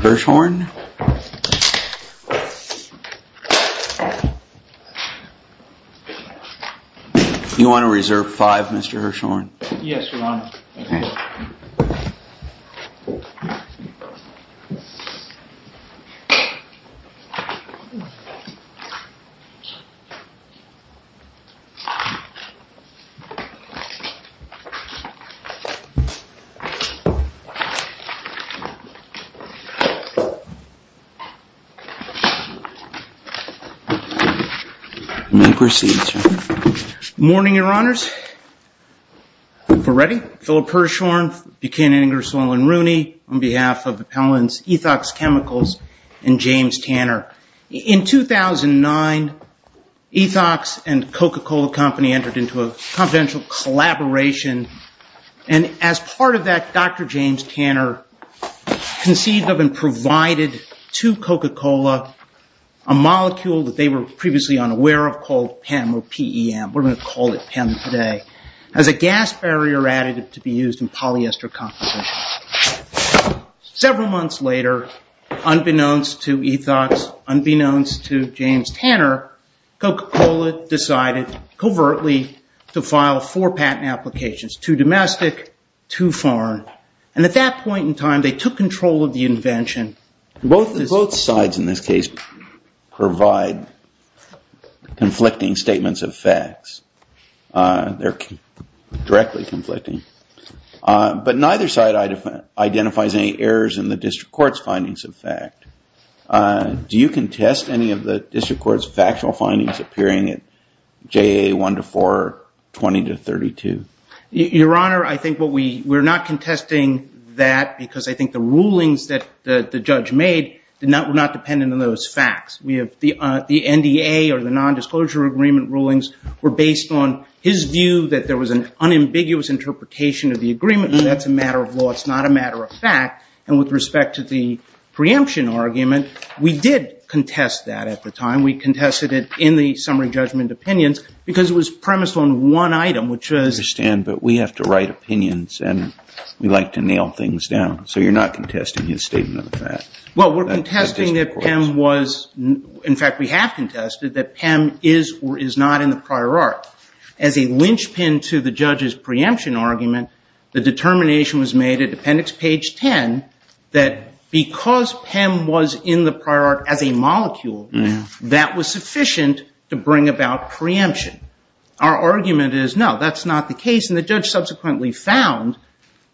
Burschhorn You want to reserve five, Mr. Burschhorn? Yes, Your Honor. Okay. You may proceed, Your Honor. Good morning, Your Honors. If we're ready, Philip Burschhorn, Buchanan, Ingersoll, and Rooney, on behalf of Appellant's Ethox Chemicals and James Tanner. In 2009, Ethox and Coca-Cola Company entered into a confidential collaboration, and as part of that, Dr. James Tanner conceived of and provided to Coca-Cola a molecule that they were previously unaware of called PEM, we're going to call it PEM today, as a gas barrier additive to be used in polyester composition. Several months later, unbeknownst to Ethox, unbeknownst to James Tanner, Coca-Cola decided, covertly, to file four patent applications, too domestic, too foreign. And at that point in time, they took control of the invention. Both sides in this case provide conflicting statements of facts. They're directly conflicting. But neither side identifies any errors in the district court's findings of fact. Do you contest any of the district court's factual findings appearing at JA 1 to 4, 20 to 32? Your Honor, I think we're not contesting that because I think the rulings that the judge made were not dependent on those facts. The NDA or the nondisclosure agreement rulings were based on his view that there was an unambiguous interpretation of the agreement, and that's a matter of law, it's not a matter of fact. And with respect to the preemption argument, we did contest that at the time. We contested it in the summary judgment opinions because it was premised on one item, but we have to write opinions and we like to nail things down. So you're not contesting his statement of fact. Well, we're contesting that PEM was, in fact, we have contested that PEM is or is not in the prior art. As a linchpin to the judge's preemption argument, the determination was made at appendix page 10 that because PEM was in the prior art as a molecule, that was sufficient to bring about preemption. Our argument is no, that's not the case, and the judge subsequently found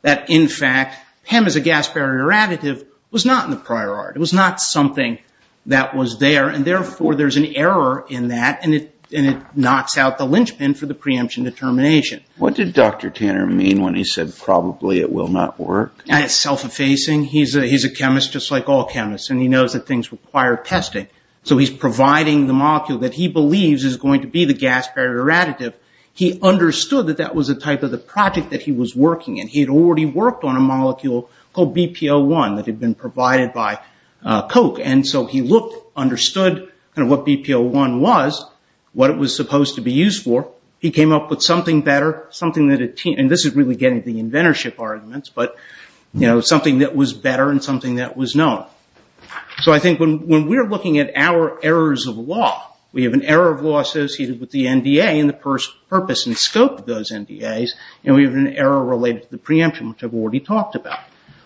that, in fact, PEM as a gas barrier additive was not in the prior art. It was not something that was there, and therefore there's an error in that, and it knocks out the linchpin for the preemption determination. What did Dr. Tanner mean when he said probably it will not work? It's self-effacing. He's a chemist just like all chemists, and he knows that things require testing. So he's providing the molecule that he believes is going to be the gas barrier additive. He understood that that was the type of the project that he was working in. He had already worked on a molecule called BPO1 that had been provided by Koch, and so he looked, understood what BPO1 was, what it was supposed to be used for. He came up with something better, something that had changed, and this is really getting at the inventorship arguments, but something that was better and something that was known. So I think when we're looking at our errors of law, we have an error of law associated with the NDA and the purpose and scope of those NDAs, and we have an error related to the preemption, which I've already talked about.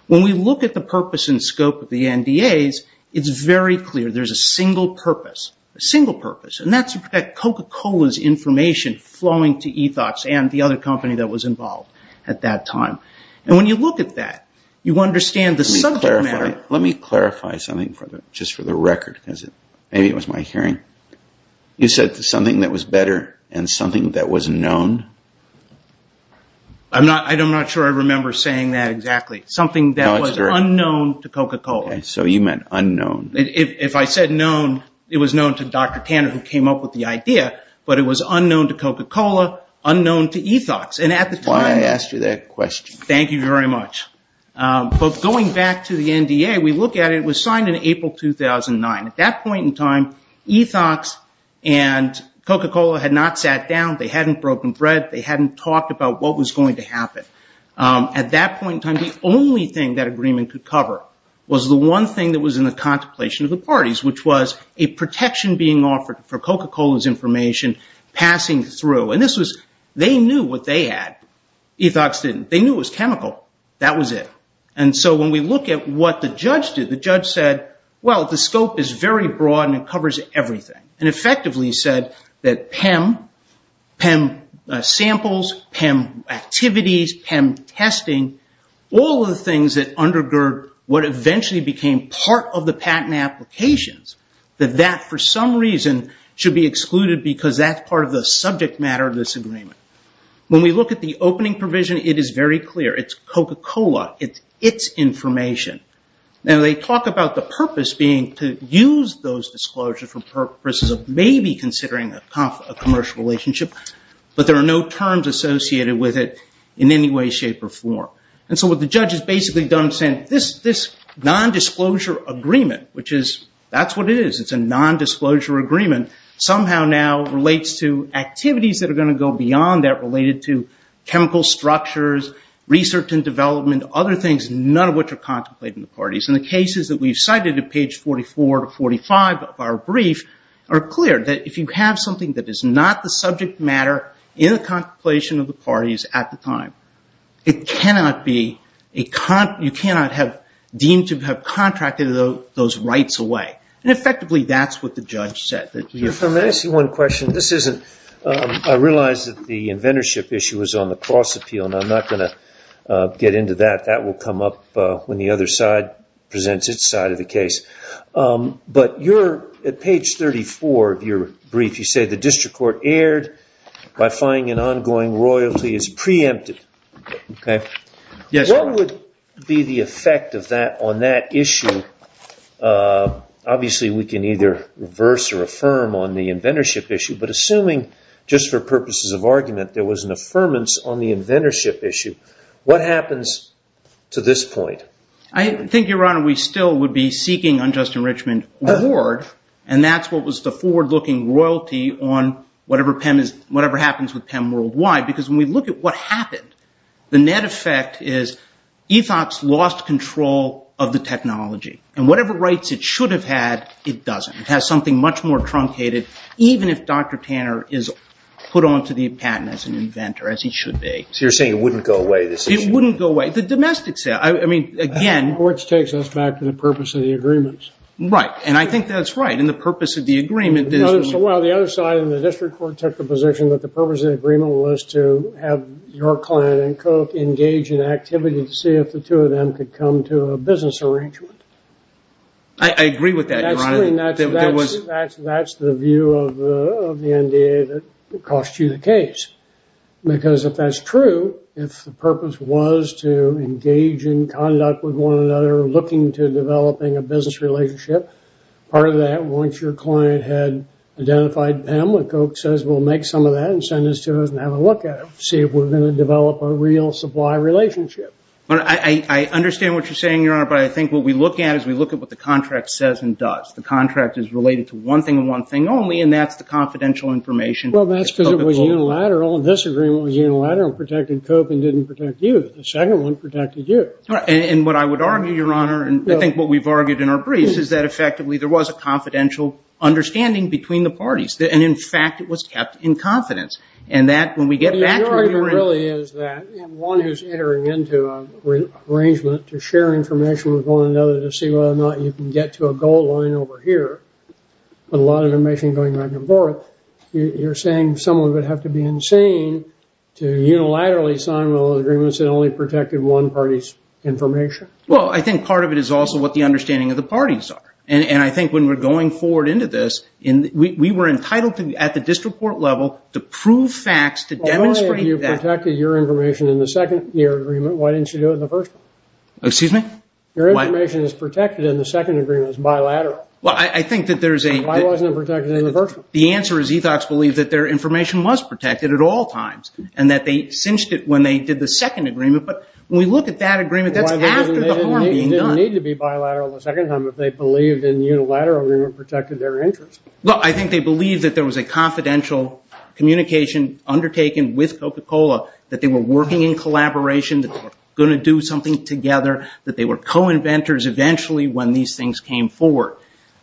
When we look at the purpose and scope of the NDAs, it's very clear. There's a single purpose, a single purpose, and that's Coca-Cola's information flowing to Ethox and the other company that was involved at that time. And when you look at that, you understand the subject matter. Let me clarify something just for the record because maybe it was my hearing. You said something that was better and something that was known? I'm not sure I remember saying that exactly. Something that was unknown to Coca-Cola. So you meant unknown. If I said known, it was known to Dr. Tanner who came up with the idea, but it was unknown to Coca-Cola, unknown to Ethox. That's why I asked you that question. Thank you very much. But going back to the NDA, we look at it. It was signed in April 2009. At that point in time, Ethox and Coca-Cola had not sat down. They hadn't broken bread. They hadn't talked about what was going to happen. At that point in time, the only thing that agreement could cover was the one thing that was in the contemplation of the parties, which was a protection being offered for Coca-Cola's information passing through. And they knew what they had. Ethox didn't. They knew it was chemical. That was it. And so when we look at what the judge did, the judge said, well, the scope is very broad and it covers everything, and effectively said that PEM, PEM samples, PEM activities, PEM testing, all of the things that undergird what eventually became part of the patent applications, that that for some reason should be excluded because that's part of the subject matter of this agreement. When we look at the opening provision, it is very clear. It's Coca-Cola. It's its information. Now, they talk about the purpose being to use those disclosures for purposes of maybe considering a commercial relationship, but there are no terms associated with it in any way, shape, or form. And so what the judge has basically done is said, this nondisclosure agreement, which is, that's what it is, it's a nondisclosure agreement, somehow now relates to activities that are going to go beyond that, related to chemical structures, research and development, other things, none of which are contemplated in the parties. And the cases that we've cited at page 44 to 45 of our brief are clear, that if you have something that is not the subject matter in the contemplation of the parties at the time, it cannot be a, you cannot have deemed to have contracted those rights away. And effectively, that's what the judge said. Let me ask you one question. This isn't, I realize that the inventorship issue is on the cross appeal, and I'm not going to get into that. That will come up when the other side presents its side of the case. But you're, at page 34 of your brief, you say, the district court erred by finding an ongoing royalty is preempted. Okay. Yes. What would be the effect of that on that issue? Obviously, we can either reverse or affirm on the inventorship issue. But assuming, just for purposes of argument, there was an affirmance on the inventorship issue, what happens to this point? I think, Your Honor, we still would be seeking unjust enrichment reward, and that's what was the forward-looking royalty on whatever happens with PEM worldwide. Because when we look at what happened, the net effect is Ethos lost control of the technology. And whatever rights it should have had, it doesn't. It has something much more truncated, even if Dr. Tanner is put onto the patent as an inventor, as he should be. So you're saying it wouldn't go away, this issue? It wouldn't go away. The domestic sale. I mean, again. Which takes us back to the purpose of the agreements. Right. And I think that's right. And the purpose of the agreement is. Well, the other side of the district court took the position that the purpose of the agreement was to have your client and Koch engage in activity to see if the two of them could come to a business arrangement. I agree with that, Your Honor. That's the view of the NDA that cost you the case. Because if that's true, if the purpose was to engage in conduct with one another, looking to developing a business relationship, part of that, once your client had identified PEM, and Koch says we'll make some of that and send it to us and have a look at it, see if we're going to develop a real supply relationship. I understand what you're saying, Your Honor, but I think what we look at is we look at what the contract says and does. The contract is related to one thing and one thing only, and that's the confidential information. Well, that's because it was unilateral. This agreement was unilateral and protected Koch and didn't protect you. The second one protected you. And what I would argue, Your Honor, and I think what we've argued in our briefs is that effectively there was a confidential understanding between the parties. And, in fact, it was kept in confidence. And that, when we get back to it, we'll remember. Your argument really is that one is entering into an arrangement to share information with one another to see whether or not you can get to a goal line over here, but a lot of information going back and forth. You're saying someone would have to be insane to unilaterally sign all the agreements that only protected one party's information? Well, I think part of it is also what the understanding of the parties are. And I think when we're going forward into this, we were entitled to, at the district court level, to prove facts to demonstrate that. If only you protected your information in the second year agreement, why didn't you do it in the first one? Excuse me? Your information is protected in the second agreement. It's bilateral. Well, I think that there's a... Why wasn't it protected in the first one? The answer is Ethox believed that their information was protected at all times and that they cinched it when they did the second agreement. But when we look at that agreement, that's after the harm being done. It didn't need to be bilateral the second time if they believed in the unilateral agreement protected their interest. Well, I think they believed that there was a confidential communication undertaken with Coca-Cola, that they were working in collaboration, that they were going to do something together, that they were co-inventors eventually when these things came forward.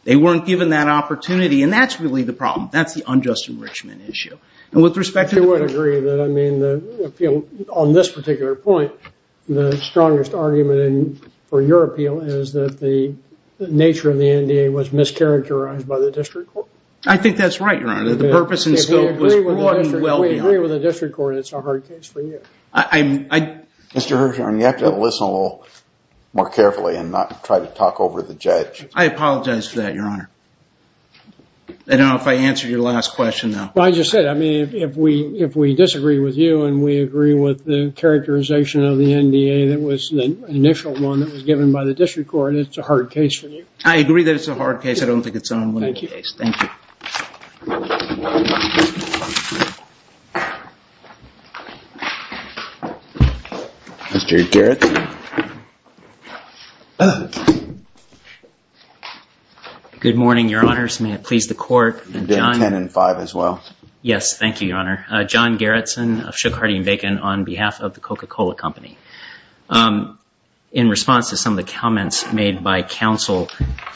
They weren't given that opportunity, and that's really the problem. That's the unjust enrichment issue. And with respect to... I would agree that, I mean, on this particular point, the strongest argument for your appeal is that the nature of the NDA was mischaracterized by the district court. I think that's right, Your Honor. The purpose and scope was well beyond. We agree with the district court, and it's a hard case for you. Mr. Hirshhorn, you have to listen a little more carefully and not try to talk over the judge. I apologize for that, Your Honor. I don't know if I answered your last question, though. Well, I just said, I mean, if we disagree with you and we agree with the characterization of the NDA that was the initial one that was given by the district court, it's a hard case for you. I agree that it's a hard case. I don't think it's an unwinning case. Thank you. Thank you. Mr. Gerritsen. Good morning, Your Honors. 10 and 5 as well. Yes, thank you, Your Honor. John Gerritsen of Shook, Hardy & Bacon on behalf of the Coca-Cola Company. In response to some of the comments made by counsel,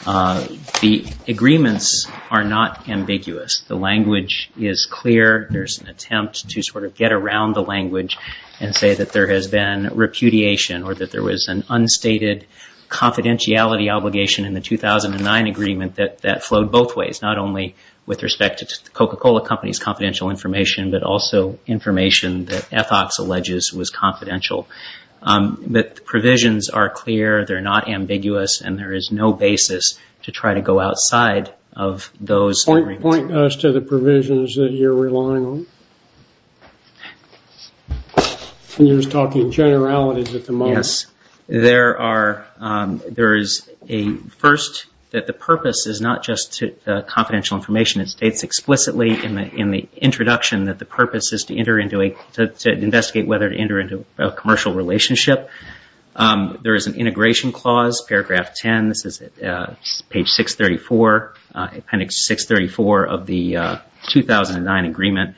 the agreements are not ambiguous. The language is clear. There's an attempt to sort of get around the language and say that there has been repudiation or that there was an unstated confidentiality obligation in the 2009 agreement that flowed both ways, not only with respect to the Coca-Cola Company's confidential information but also information that Ethox alleges was confidential. But the provisions are clear, they're not ambiguous, and there is no basis to try to go outside of those agreements. Point us to the provisions that you're relying on. You're just talking generalities at the moment. Yes. There is a first that the purpose is not just confidential information. It states explicitly in the introduction that the purpose is to investigate whether to enter into a commercial relationship. There is an integration clause, paragraph 10. This is page 634, appendix 634 of the 2009 agreement.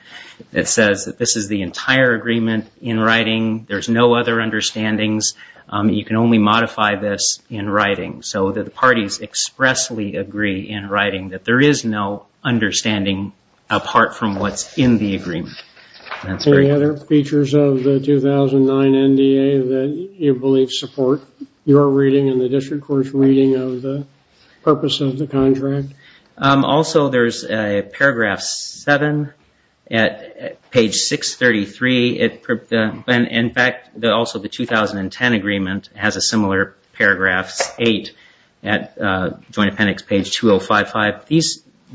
It says that this is the entire agreement in writing. There's no other understandings. You can only modify this in writing. So the parties expressly agree in writing that there is no understanding apart from what's in the agreement. Any other features of the 2009 NDA that you believe support your reading and the district court's reading of the purpose of the contract? Also, there's paragraph 7 at page 633. In fact, also the 2010 agreement has a similar paragraph, 8, at joint appendix page 2055.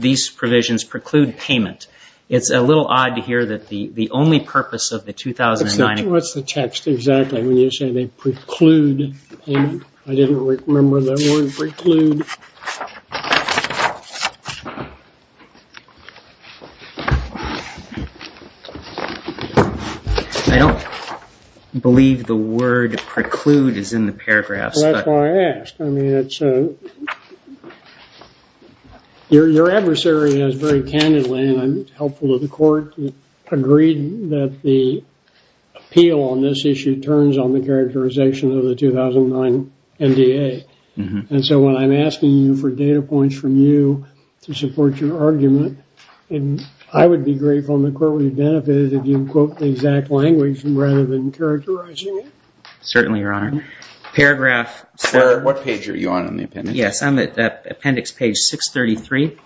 These provisions preclude payment. It's a little odd to hear that the only purpose of the 2009 agreement What's the text exactly when you say they preclude payment? I didn't remember the word preclude. I don't believe the word preclude is in the paragraphs. That's why I asked. Your adversary has very candidly, and I'm helpful to the court, agreed that the appeal on this issue turns on the characterization of the 2009 NDA. And so when I'm asking you for data points from you to support your argument, I would be grateful, and the court would be benefited, if you quote the exact language rather than characterizing it. Certainly, Your Honor. What page are you on in the appendix? Yes, I'm at appendix page 633.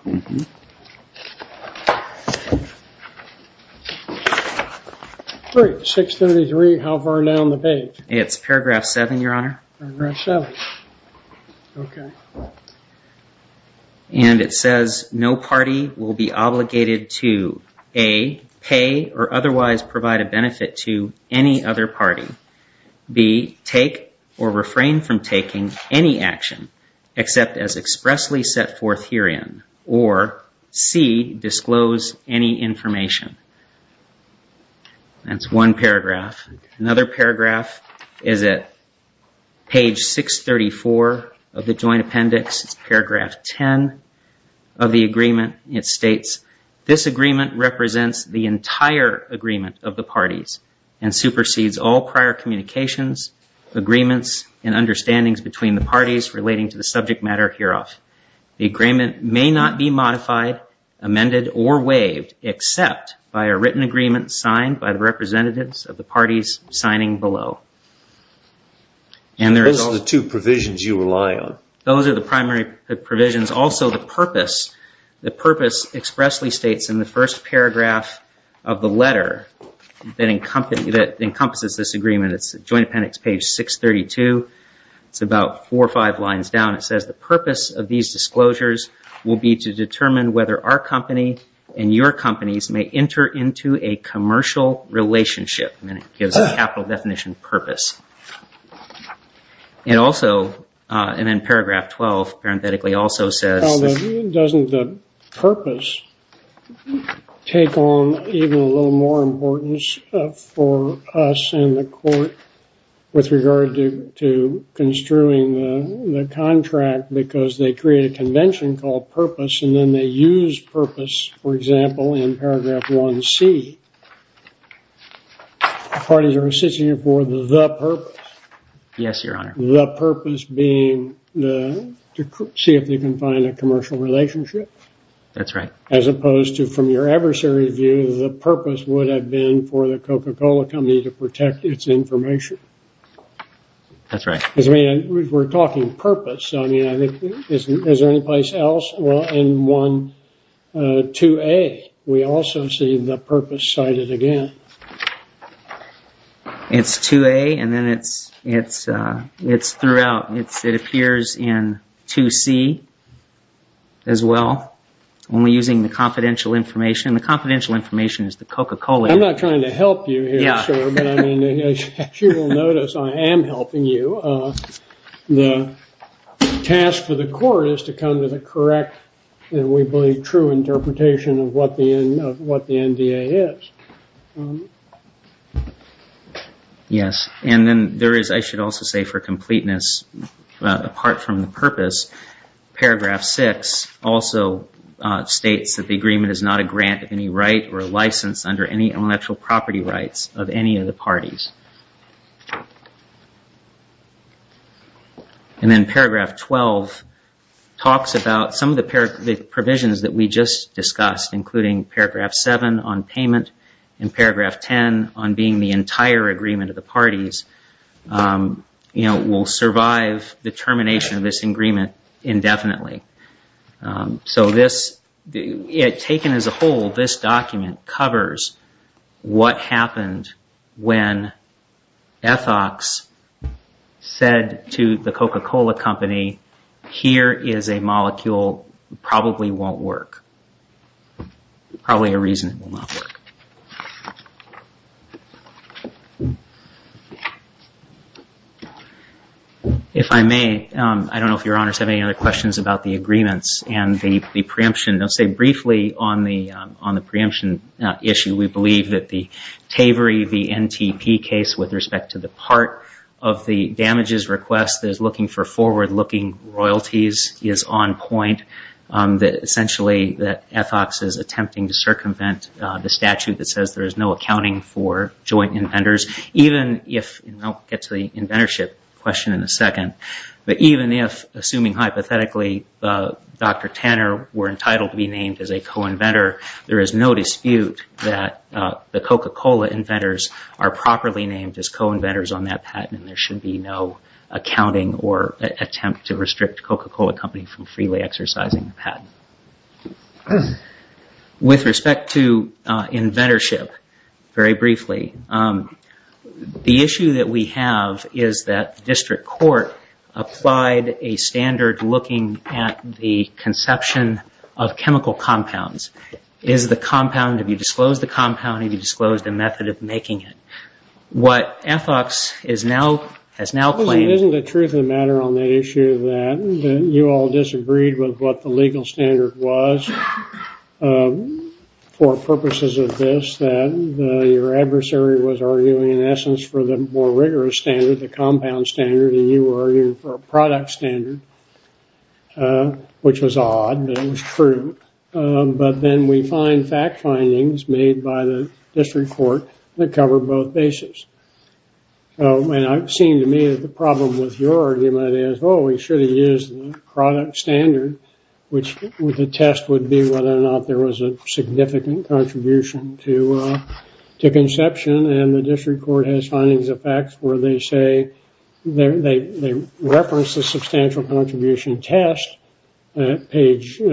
633, how far down the page? It's paragraph 7, Your Honor. Paragraph 7. Okay. And it says no party will be obligated to A, pay or otherwise provide a benefit to any other party. B, take or refrain from taking any action, except as expressly set forth herein. Or C, disclose any information. That's one paragraph. Another paragraph is at page 634 of the joint appendix. It's paragraph 10 of the agreement. It states, this agreement represents the entire agreement of the parties and supersedes all prior communications, agreements, and understandings between the parties relating to the subject matter hereof. The agreement may not be modified, amended, or waived, except by a written agreement signed by the representatives of the parties signing below. Those are the two provisions you rely on. Those are the primary provisions. Also, the purpose expressly states in the first paragraph of the letter that encompasses this agreement. It's joint appendix page 632. It's about four or five lines down. It says the purpose of these disclosures will be to determine whether our company and your companies may enter into a commercial relationship. And then it gives a capital definition purpose. And also, and then paragraph 12 parenthetically also says Well, doesn't the purpose take on even a little more importance for us in the court with regard to construing the contract because they create a convention called purpose and then they use purpose, for example, in paragraph 1C. Parties are assisting you for the purpose. Yes, Your Honor. The purpose being to see if they can find a commercial relationship. That's right. As opposed to from your adversary's view, the purpose would have been for the Coca-Cola company to protect its information. That's right. We're talking purpose. Is there any place else? Well, in 2A, we also see the purpose cited again. It's 2A and then it's throughout. It appears in 2C as well, only using the confidential information. And the confidential information is the Coca-Cola. I'm not trying to help you here, sir. But I mean, as you will notice, I am helping you. The task for the court is to come to the correct, and we believe true interpretation of what the NDA is. Yes. And then there is, I should also say for completeness, apart from the purpose, Paragraph 6 also states that the agreement is not a grant of any right or a license under any intellectual property rights of any of the parties. And then Paragraph 12 talks about some of the provisions that we just discussed, including Paragraph 7 on payment and Paragraph 10 on being the entire agreement of the parties, you know, will survive the termination of this agreement indefinitely. So this, taken as a whole, this document covers what happened when Ethox said to the Coca-Cola company, here is a molecule that probably won't work, probably a reason it will not work. If I may, I don't know if Your Honors have any other questions about the agreements and the preemption. I'll say briefly on the preemption issue, we believe that the Tavery v. NTP case with respect to the part of the damages request that is looking for forward-looking royalties is on point. Essentially, Ethox is attempting to circumvent the statute that says there is no accounting for joint inventors, even if, and I'll get to the inventorship question in a second, but even if, assuming hypothetically, Dr. Tanner were entitled to be named as a co-inventor, there is no dispute that the Coca-Cola inventors are properly named as co-inventors on that patent and there should be no accounting or attempt to restrict the Coca-Cola company from freely exercising the patent. With respect to inventorship, very briefly, the issue that we have is that the district court applied a standard looking at the conception of chemical compounds. Is the compound, have you disclosed the compound, have you disclosed the method of making it? What Ethox has now claimed- Isn't the truth of the matter on the issue that you all disagreed with what the legal standard was for purposes of this, that your adversary was arguing in essence for the more rigorous standard, the compound standard, and you were arguing for a product standard, which was odd, but it was true. But then we find fact findings made by the district court that cover both bases. And it seemed to me that the problem with your argument is, oh, we should have used the product standard, which the test would be whether or not there was a significant contribution to conception and the district court has findings of facts where they say, they reference the substantial contribution test at page 20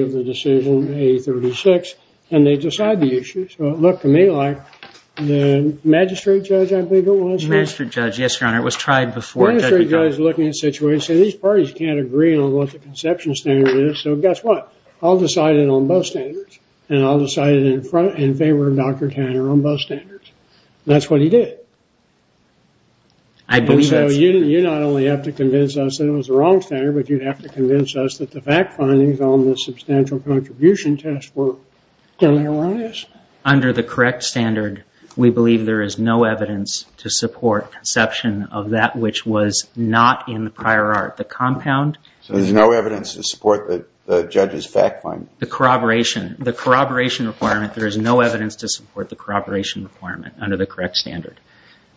of the decision, and they decide the issue. So it looked to me like the magistrate judge, I believe it was- Magistrate judge, yes, your honor. It was tried before- Magistrate judge looking at the situation, these parties can't agree on what the conception standard is, so guess what? I'll decide it on both standards, and I'll decide it in favor of Dr. Tanner on both standards. And that's what he did. I believe that's- You not only have to convince us that it was the wrong standard, but you'd have to convince us that the fact findings on the substantial contribution test work can arise. Under the correct standard, we believe there is no evidence to support conception of that which was not in the prior art. The compound- So there's no evidence to support the judge's fact finding? The corroboration. The corroboration requirement, there is no evidence to support the corroboration requirement under the correct standard.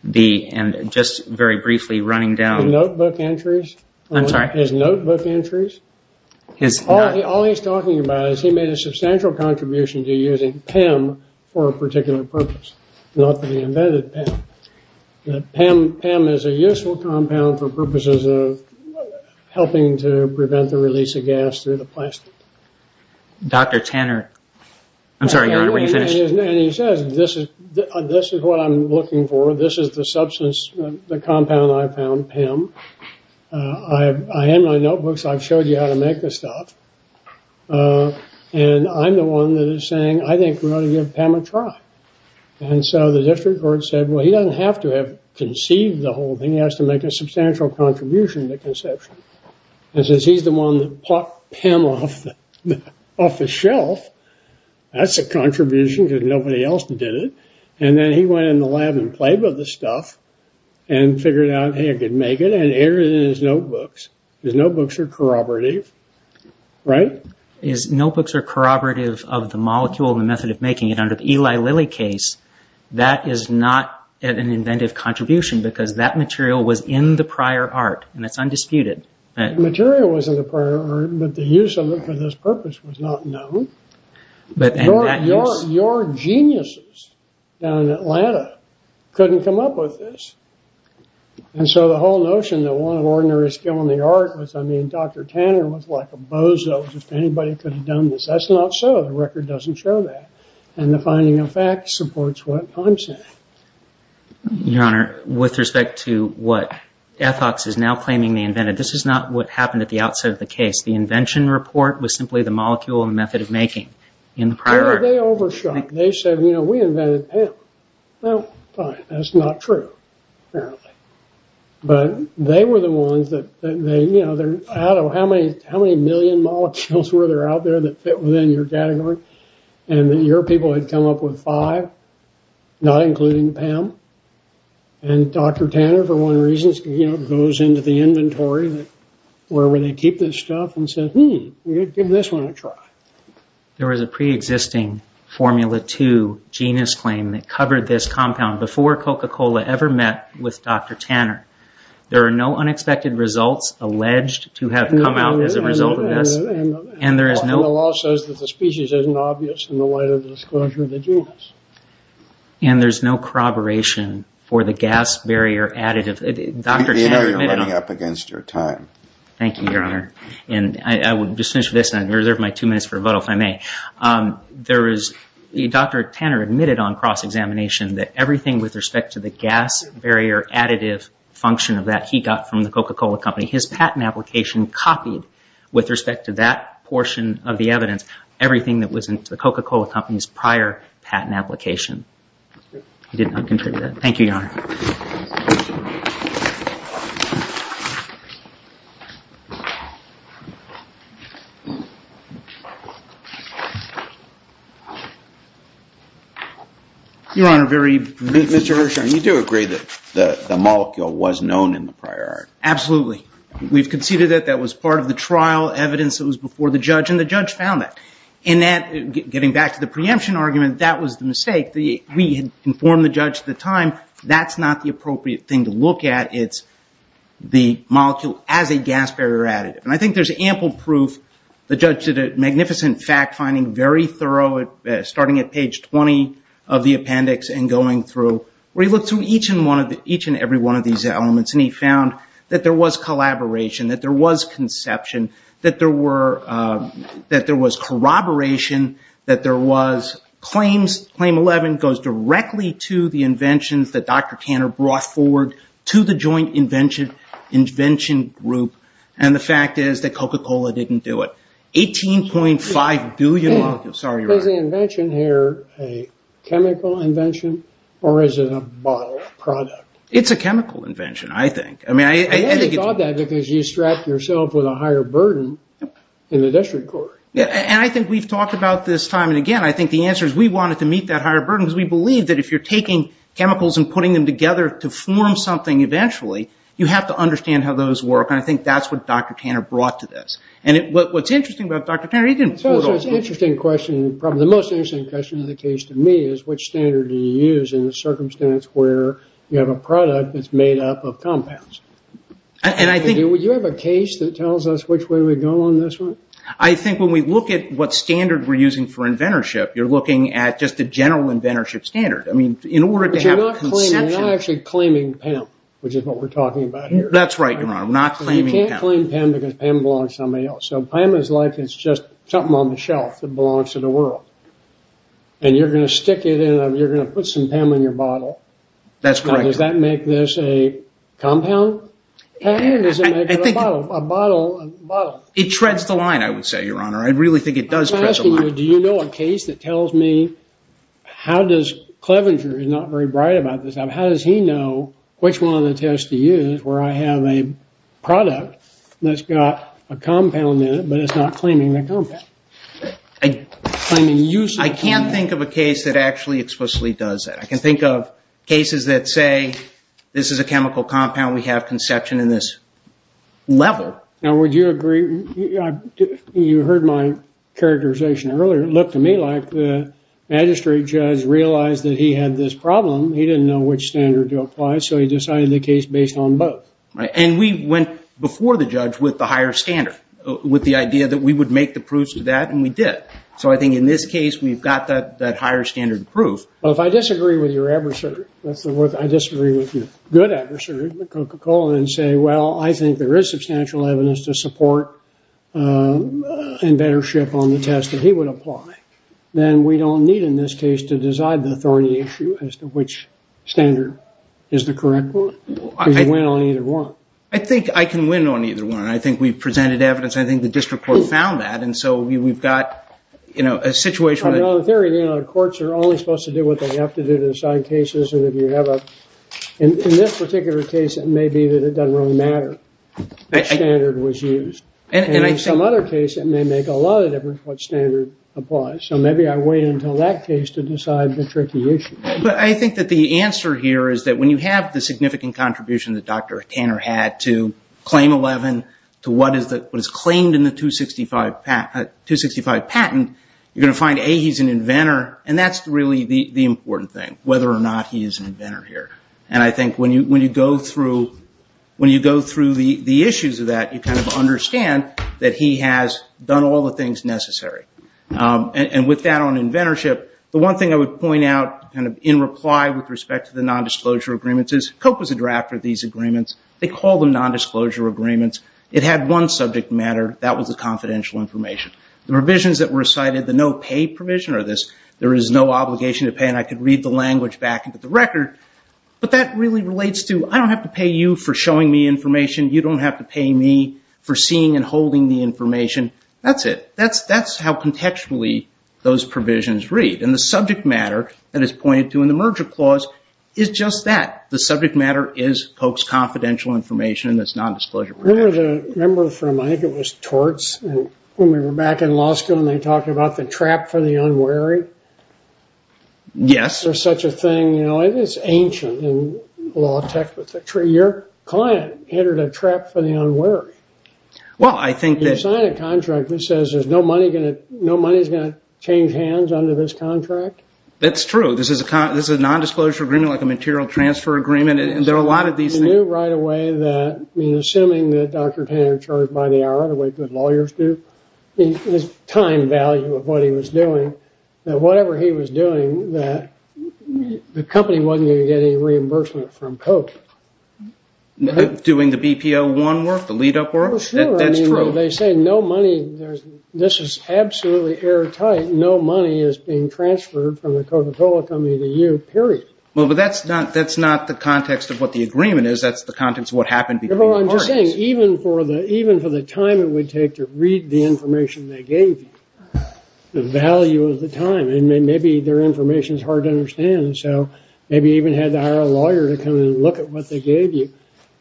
And just very briefly, running down- The notebook entries? I'm sorry? His notebook entries? All he's talking about is he made a substantial contribution to using PEM for a particular purpose, not that he invented PEM. PEM is a useful compound for purposes of helping to prevent the release of gas through the plastic. Dr. Tanner. I'm sorry, Your Honor, were you finished? And he says, this is what I'm looking for. This is the substance, the compound I found, PEM. I have my notebooks. I've showed you how to make this stuff. And I'm the one that is saying, I think we ought to give PEM a try. And so the district court said, well, he doesn't have to have conceived the whole thing. He has to make a substantial contribution to conception. And says he's the one that plucked PEM off the shelf. That's a contribution because nobody else did it. And then he went in the lab and played with the stuff and figured out how he could make it and entered it in his notebooks. His notebooks are corroborative, right? His notebooks are corroborative of the molecule and the method of making it. Under the Eli Lilly case, that is not an inventive contribution because that material was in the prior art, and that's undisputed. The material was in the prior art, but the use of it for this purpose was not known. Your geniuses down in Atlanta couldn't come up with this. And so the whole notion that one of ordinary skill in the art was, I mean, Dr. Tanner was like a bozo if anybody could have done this. That's not so. The record doesn't show that. And the finding of fact supports what I'm saying. Your Honor, with respect to what Ethox is now claiming they invented, this is not what happened at the outset of the case. The invention report was simply the molecule and the method of making in the prior art. They overshot. They said, you know, we invented PAM. Well, fine. That's not true, apparently. But they were the ones that, you know, how many million molecules were there out there that fit within your category and that your people had come up with five, not including PAM? And Dr. Tanner, for one reason, goes into the inventory where they keep this stuff and says, hmm, give this one a try. There was a preexisting Formula 2 genus claim that covered this compound before Coca-Cola ever met with Dr. Tanner. There are no unexpected results alleged to have come out as a result of this. And the law says that the species isn't obvious in the light of the disclosure of the genus. And there's no corroboration for the gas barrier additive. I know you're running up against your time. Thank you, Your Honor. And I will just finish this and reserve my two minutes for rebuttal, if I may. There is Dr. Tanner admitted on cross-examination that everything with respect to the gas barrier additive function of that he got from the Coca-Cola company, his patent application copied with respect to that portion of the evidence, everything that was in the Coca-Cola company's prior patent application. He did not contribute that. Thank you, Your Honor. Your Honor, very briefly. Mr. Hersh, you do agree that the molecule was known in the prior art? Absolutely. We've conceded that that was part of the trial evidence that was before the judge, and the judge found that. And that, getting back to the preemption argument, that was the mistake. We had informed the judge at the time, that's not the appropriate thing to look at. It's the molecule as a gas barrier additive. And I think there's ample proof. The judge did a magnificent fact-finding, very thorough, starting at page 20 of the appendix and going through, where he looked through each and every one of these elements, and he found that there was collaboration, that there was conception, that there was corroboration, that there was claims. Claim 11 goes directly to the inventions that Dr. Tanner brought forward to the joint invention group. And the fact is that Coca-Cola didn't do it. 18.5 billion molecules. Sorry, Your Honor. Is the invention here a chemical invention, or is it a bottle product? It's a chemical invention, I think. I only thought that because you strapped yourself with a higher burden in the district court. And I think we've talked about this time and again. I think the answer is we wanted to meet that higher burden, because we believe that if you're taking chemicals and putting them together to form something eventually, you have to understand how those work. And I think that's what Dr. Tanner brought to this. And what's interesting about Dr. Tanner, he didn't... It's an interesting question. Probably the most interesting question in the case to me is, which standard do you use in a circumstance where you have a product that's made up of compounds? And I think... Do you have a case that tells us which way we go on this one? I think when we look at what standard we're using for inventorship, you're looking at just a general inventorship standard. I mean, in order to have conception... But you're not claiming... You're not actually claiming PEM, which is what we're talking about here. That's right, Your Honor. I'm not claiming PEM. You can't claim PEM because PEM belongs to somebody else. So PEM is like it's just something on the shelf that belongs to the world. And you're going to stick it in a... You're going to put some PEM in your bottle. That's correct. Now, does that make this a compound? Or does it make it a bottle? It treads the line, I would say, Your Honor. I really think it does tread the line. I'm asking you, do you know a case that tells me... How does... Clevenger is not very bright about this. How does he know which one of the tests to use where I have a product that's got a compound in it, but it's not claiming the compound? I can't think of a case that actually explicitly does that. I can think of cases that say this is a chemical compound. We have conception in this level. Now, would you agree... You heard my characterization earlier. It looked to me like the magistrate judge realized that he had this problem. He didn't know which standard to apply, so he decided the case based on both. And we went before the judge with the higher standard, with the idea that we would make the proofs to that, and we did. So I think in this case, we've got that higher standard proof. Well, if I disagree with your adversary, if I disagree with your good adversary, Coca-Cola, and say, well, I think there is substantial evidence to support and better ship on the test that he would apply, then we don't need, in this case, to decide the authority issue as to which standard is the correct one. You can win on either one. I think I can win on either one. I think we've presented evidence, and I think the district court found that, and so we've got a situation... In theory, the courts are only supposed to do what they have to do to decide cases, and if you have a... In this particular case, it may be that it doesn't really matter which standard was used. And in some other cases, it may make a lot of difference what standard applies. So maybe I wait until that case to decide the tricky issue. But I think that the answer here is that when you have the significant contribution that Dr. Tanner had to Claim 11, to what is claimed in the 265 patent, you're going to find, A, he's an inventor, and that's really the important thing, whether or not he is an inventor here. And I think when you go through the issues of that, you kind of understand that he has done all the things necessary. And with that on inventorship, the one thing I would point out in reply with respect to the nondisclosure agreements is Coke was a drafter of these agreements. They call them nondisclosure agreements. It had one subject matter. That was the confidential information. The provisions that were cited, the no-pay provision of this, there is no obligation to pay, and I could read the language back into the record, but that really relates to, I don't have to pay you for showing me information. You don't have to pay me for seeing and holding the information. That's it. That's how contextually those provisions read. And the subject matter that is pointed to in the merger clause is just that. The subject matter is Coke's confidential information in this nondisclosure agreement. Remember from, I think it was torts, when we were back in law school and they talked about the trap for the unwary? Yes. There's such a thing. It's ancient in law tech. Your client entered a trap for the unwary. You sign a contract that says no money is going to change hands under this contract? That's true. This is a nondisclosure agreement, like a material transfer agreement, and there are a lot of these things. You knew right away that, assuming that Dr. Tanner charged by the hour, the way good lawyers do, the time value of what he was doing, that whatever he was doing, the company wasn't going to get any reimbursement from Coke. Doing the BPO1 work, the lead-up work? Sure. That's true. They say no money. This is absolutely airtight. No money is being transferred from the Coca-Cola company to you, period. Well, but that's not the context of what the agreement is. That's the context of what happened between the parties. I'm just saying, even for the time it would take to read the information they gave you, the value of the time, and maybe their information is hard to understand, and so maybe you even had to hire a lawyer to come in and look at what they gave you.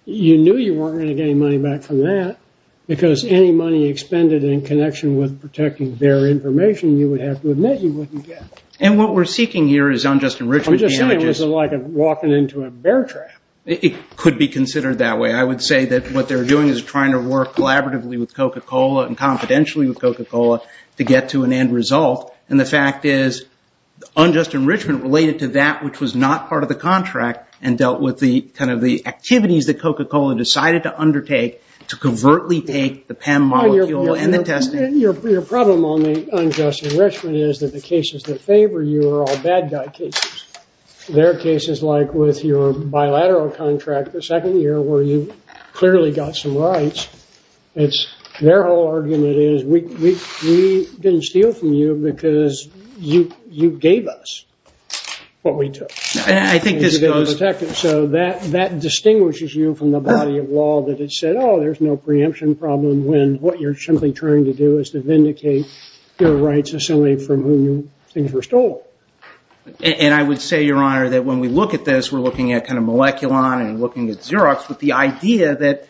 You knew you weren't going to get any money back from that because any money expended in connection with protecting their information, you would have to admit you wouldn't get. And what we're seeking here is unjust enrichment. I'm just saying, this is like walking into a bear trap. It could be considered that way. I would say that what they're doing is trying to work collaboratively with Coca-Cola and confidentially with Coca-Cola to get to an end result, and the fact is unjust enrichment related to that which was not part of the contract and dealt with the activities that Coca-Cola decided to undertake to covertly take the PEM molecule and the testing. Your problem on the unjust enrichment is that the cases that favor you are all bad guy cases. There are cases like with your bilateral contract, the second year, where you clearly got some rights. Their whole argument is we didn't steal from you because you gave us what we took. So that distinguishes you from the body of law that has said, oh, there's no preemption problem when what you're simply trying to do is to vindicate your rights as someone from whom things were stolen. And I would say, Your Honor, that when we look at this, we're looking at kind of Moleculon and looking at Xerox, with the idea that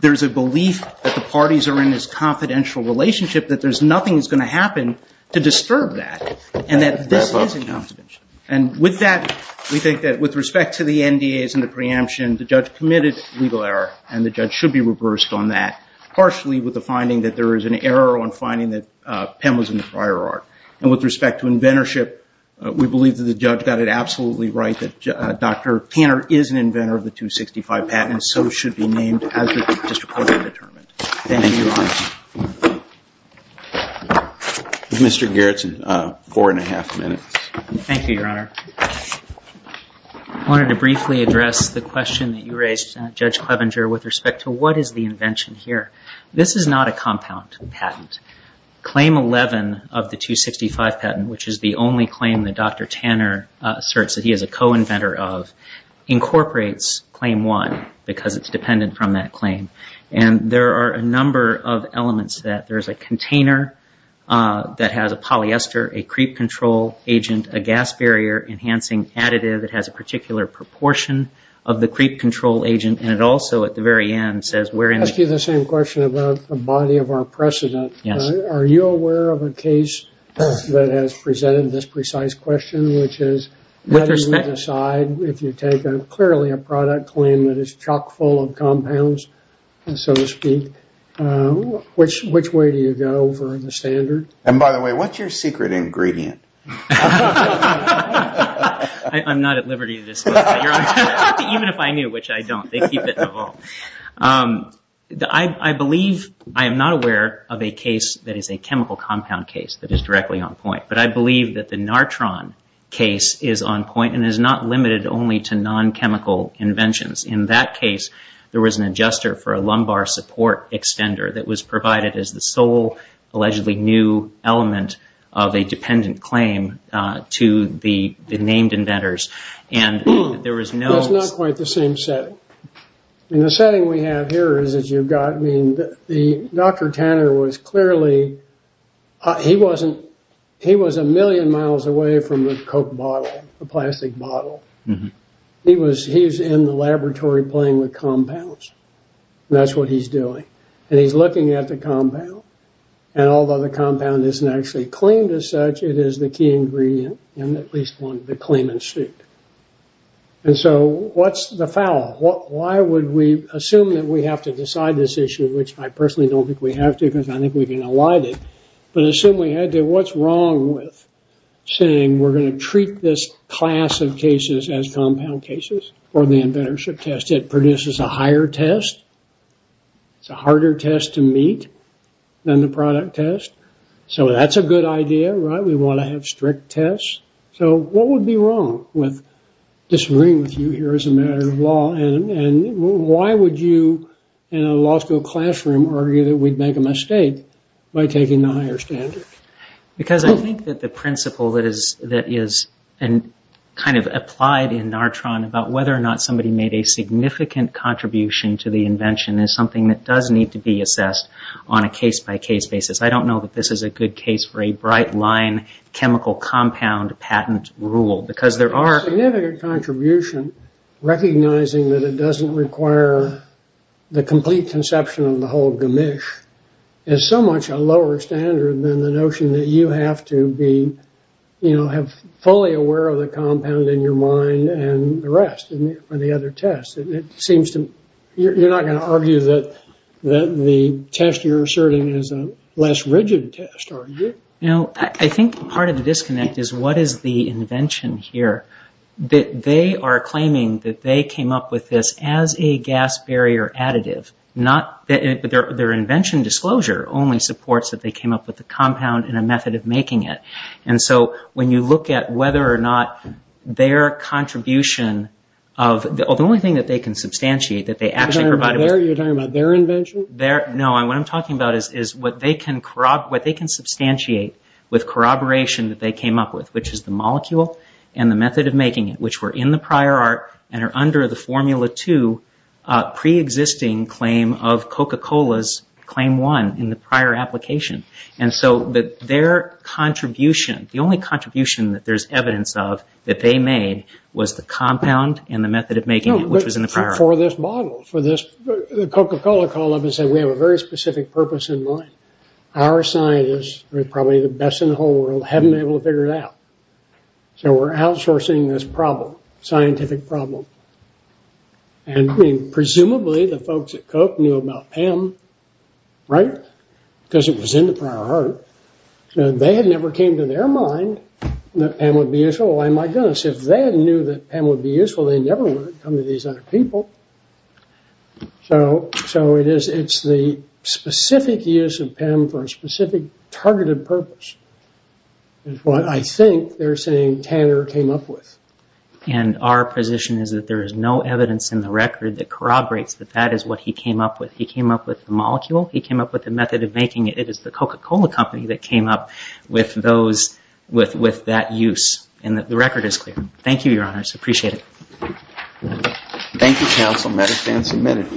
there's a belief that the parties are in this confidential relationship, that there's nothing that's going to happen to disturb that, and that this is a confidentiality. And with that, we think that with respect to the NDAs and the preemption, the judge committed legal error, and the judge should be reversed on that, partially with the finding that there is an error on finding that PEM was in the prior art. And with respect to inventorship, we believe that the judge got it absolutely right, that Dr. Tanner is an inventor of the 265 patent, and so should be named as the district court had determined. Thank you, Your Honor. Mr. Gerretsen, four and a half minutes. Thank you, Your Honor. I wanted to briefly address the question that you raised, Judge Clevenger, with respect to what is the invention here. This is not a compound patent. Claim 11 of the 265 patent, which is the only claim that Dr. Tanner asserts that he is a co-inventor of, incorporates Claim 1 because it's dependent from that claim. And there are a number of elements to that. There's a container that has a polyester, a creep control agent, a gas barrier-enhancing additive that has a particular proportion of the creep control agent, and it also, at the very end, says we're in the- I'll ask you the same question about the body of our precedent. Yes. Are you aware of a case that has presented this precise question, which is- With respect- If you take clearly a product claim that is chock full of compounds, so to speak, which way do you go for the standard? And by the way, what's your secret ingredient? I'm not at liberty to disclose that, Your Honor, even if I knew, which I don't. They keep it in the vault. I believe- I am not aware of a case that is a chemical compound case that is directly on point, but I believe that the Nartron case is on point and is not limited only to non-chemical inventions. In that case, there was an adjuster for a lumbar support extender that was provided as the sole allegedly new element of a dependent claim to the named inventors, and there was no- And the setting we have here is that you've got- I mean, Dr. Tanner was clearly- He wasn't- He was a million miles away from the Coke bottle, the plastic bottle. He was in the laboratory playing with compounds, and that's what he's doing. And he's looking at the compound, and although the compound isn't actually claimed as such, it is the key ingredient in at least one of the claim in suit. And so what's the foul? Why would we assume that we have to decide this issue, which I personally don't think we have to because I think we can elide it, but assume we had to. What's wrong with saying we're going to treat this class of cases as compound cases for the inventorship test? It produces a higher test. It's a harder test to meet than the product test. So that's a good idea, right? We want to have strict tests. So what would be wrong with disagreeing with you here as a matter of law, and why would you in a law school classroom argue that we'd make a mistake by taking the higher standard? Because I think that the principle that is kind of applied in NARTRON about whether or not somebody made a significant contribution to the invention is something that does need to be assessed on a case-by-case basis. I don't know that this is a good case for a bright-line chemical compound patent rule because there are... A significant contribution, recognizing that it doesn't require the complete conception of the whole gamish, is so much a lower standard than the notion that you have to be, you know, have fully aware of the compound in your mind and the rest for the other tests. You're not going to argue that the test you're asserting is a less rigid test, are you? No, I think part of the disconnect is what is the invention here? They are claiming that they came up with this as a gas barrier additive. Their invention disclosure only supports that they came up with the compound and a method of making it. And so when you look at whether or not their contribution of... The only thing that they can substantiate that they actually provided... You're talking about their invention? No, what I'm talking about is what they can substantiate with corroboration that they came up with, which is the molecule and the method of making it, which were in the prior art and are under the Formula 2 pre-existing claim of Coca-Cola's Claim 1 in the prior application. And so that their contribution, the only contribution that there's evidence of that they made was the compound and the method of making it, which was in the prior... No, but for this model, for this... Coca-Cola called up and said, we have a very specific purpose in mind. Our scientists are probably the best in the whole world, haven't been able to figure it out. So we're outsourcing this problem, scientific problem. And presumably the folks at Coke knew about PAM, right? Because it was in the prior art. They had never came to their mind that PAM would be useful. Why, my goodness, if they knew that PAM would be useful, they never would have come to these other people. So it's the specific use of PAM for a specific targeted purpose. It's what I think they're saying Tanner came up with. And our position is that there is no evidence in the record that corroborates that that is what he came up with. He came up with the molecule, he came up with the method of making it. It is the Coca-Cola company that came up with those, with that use. And the record is clear. Thank you, Your Honors. Appreciate it. Thank you, Counsel. Matter stands submitted.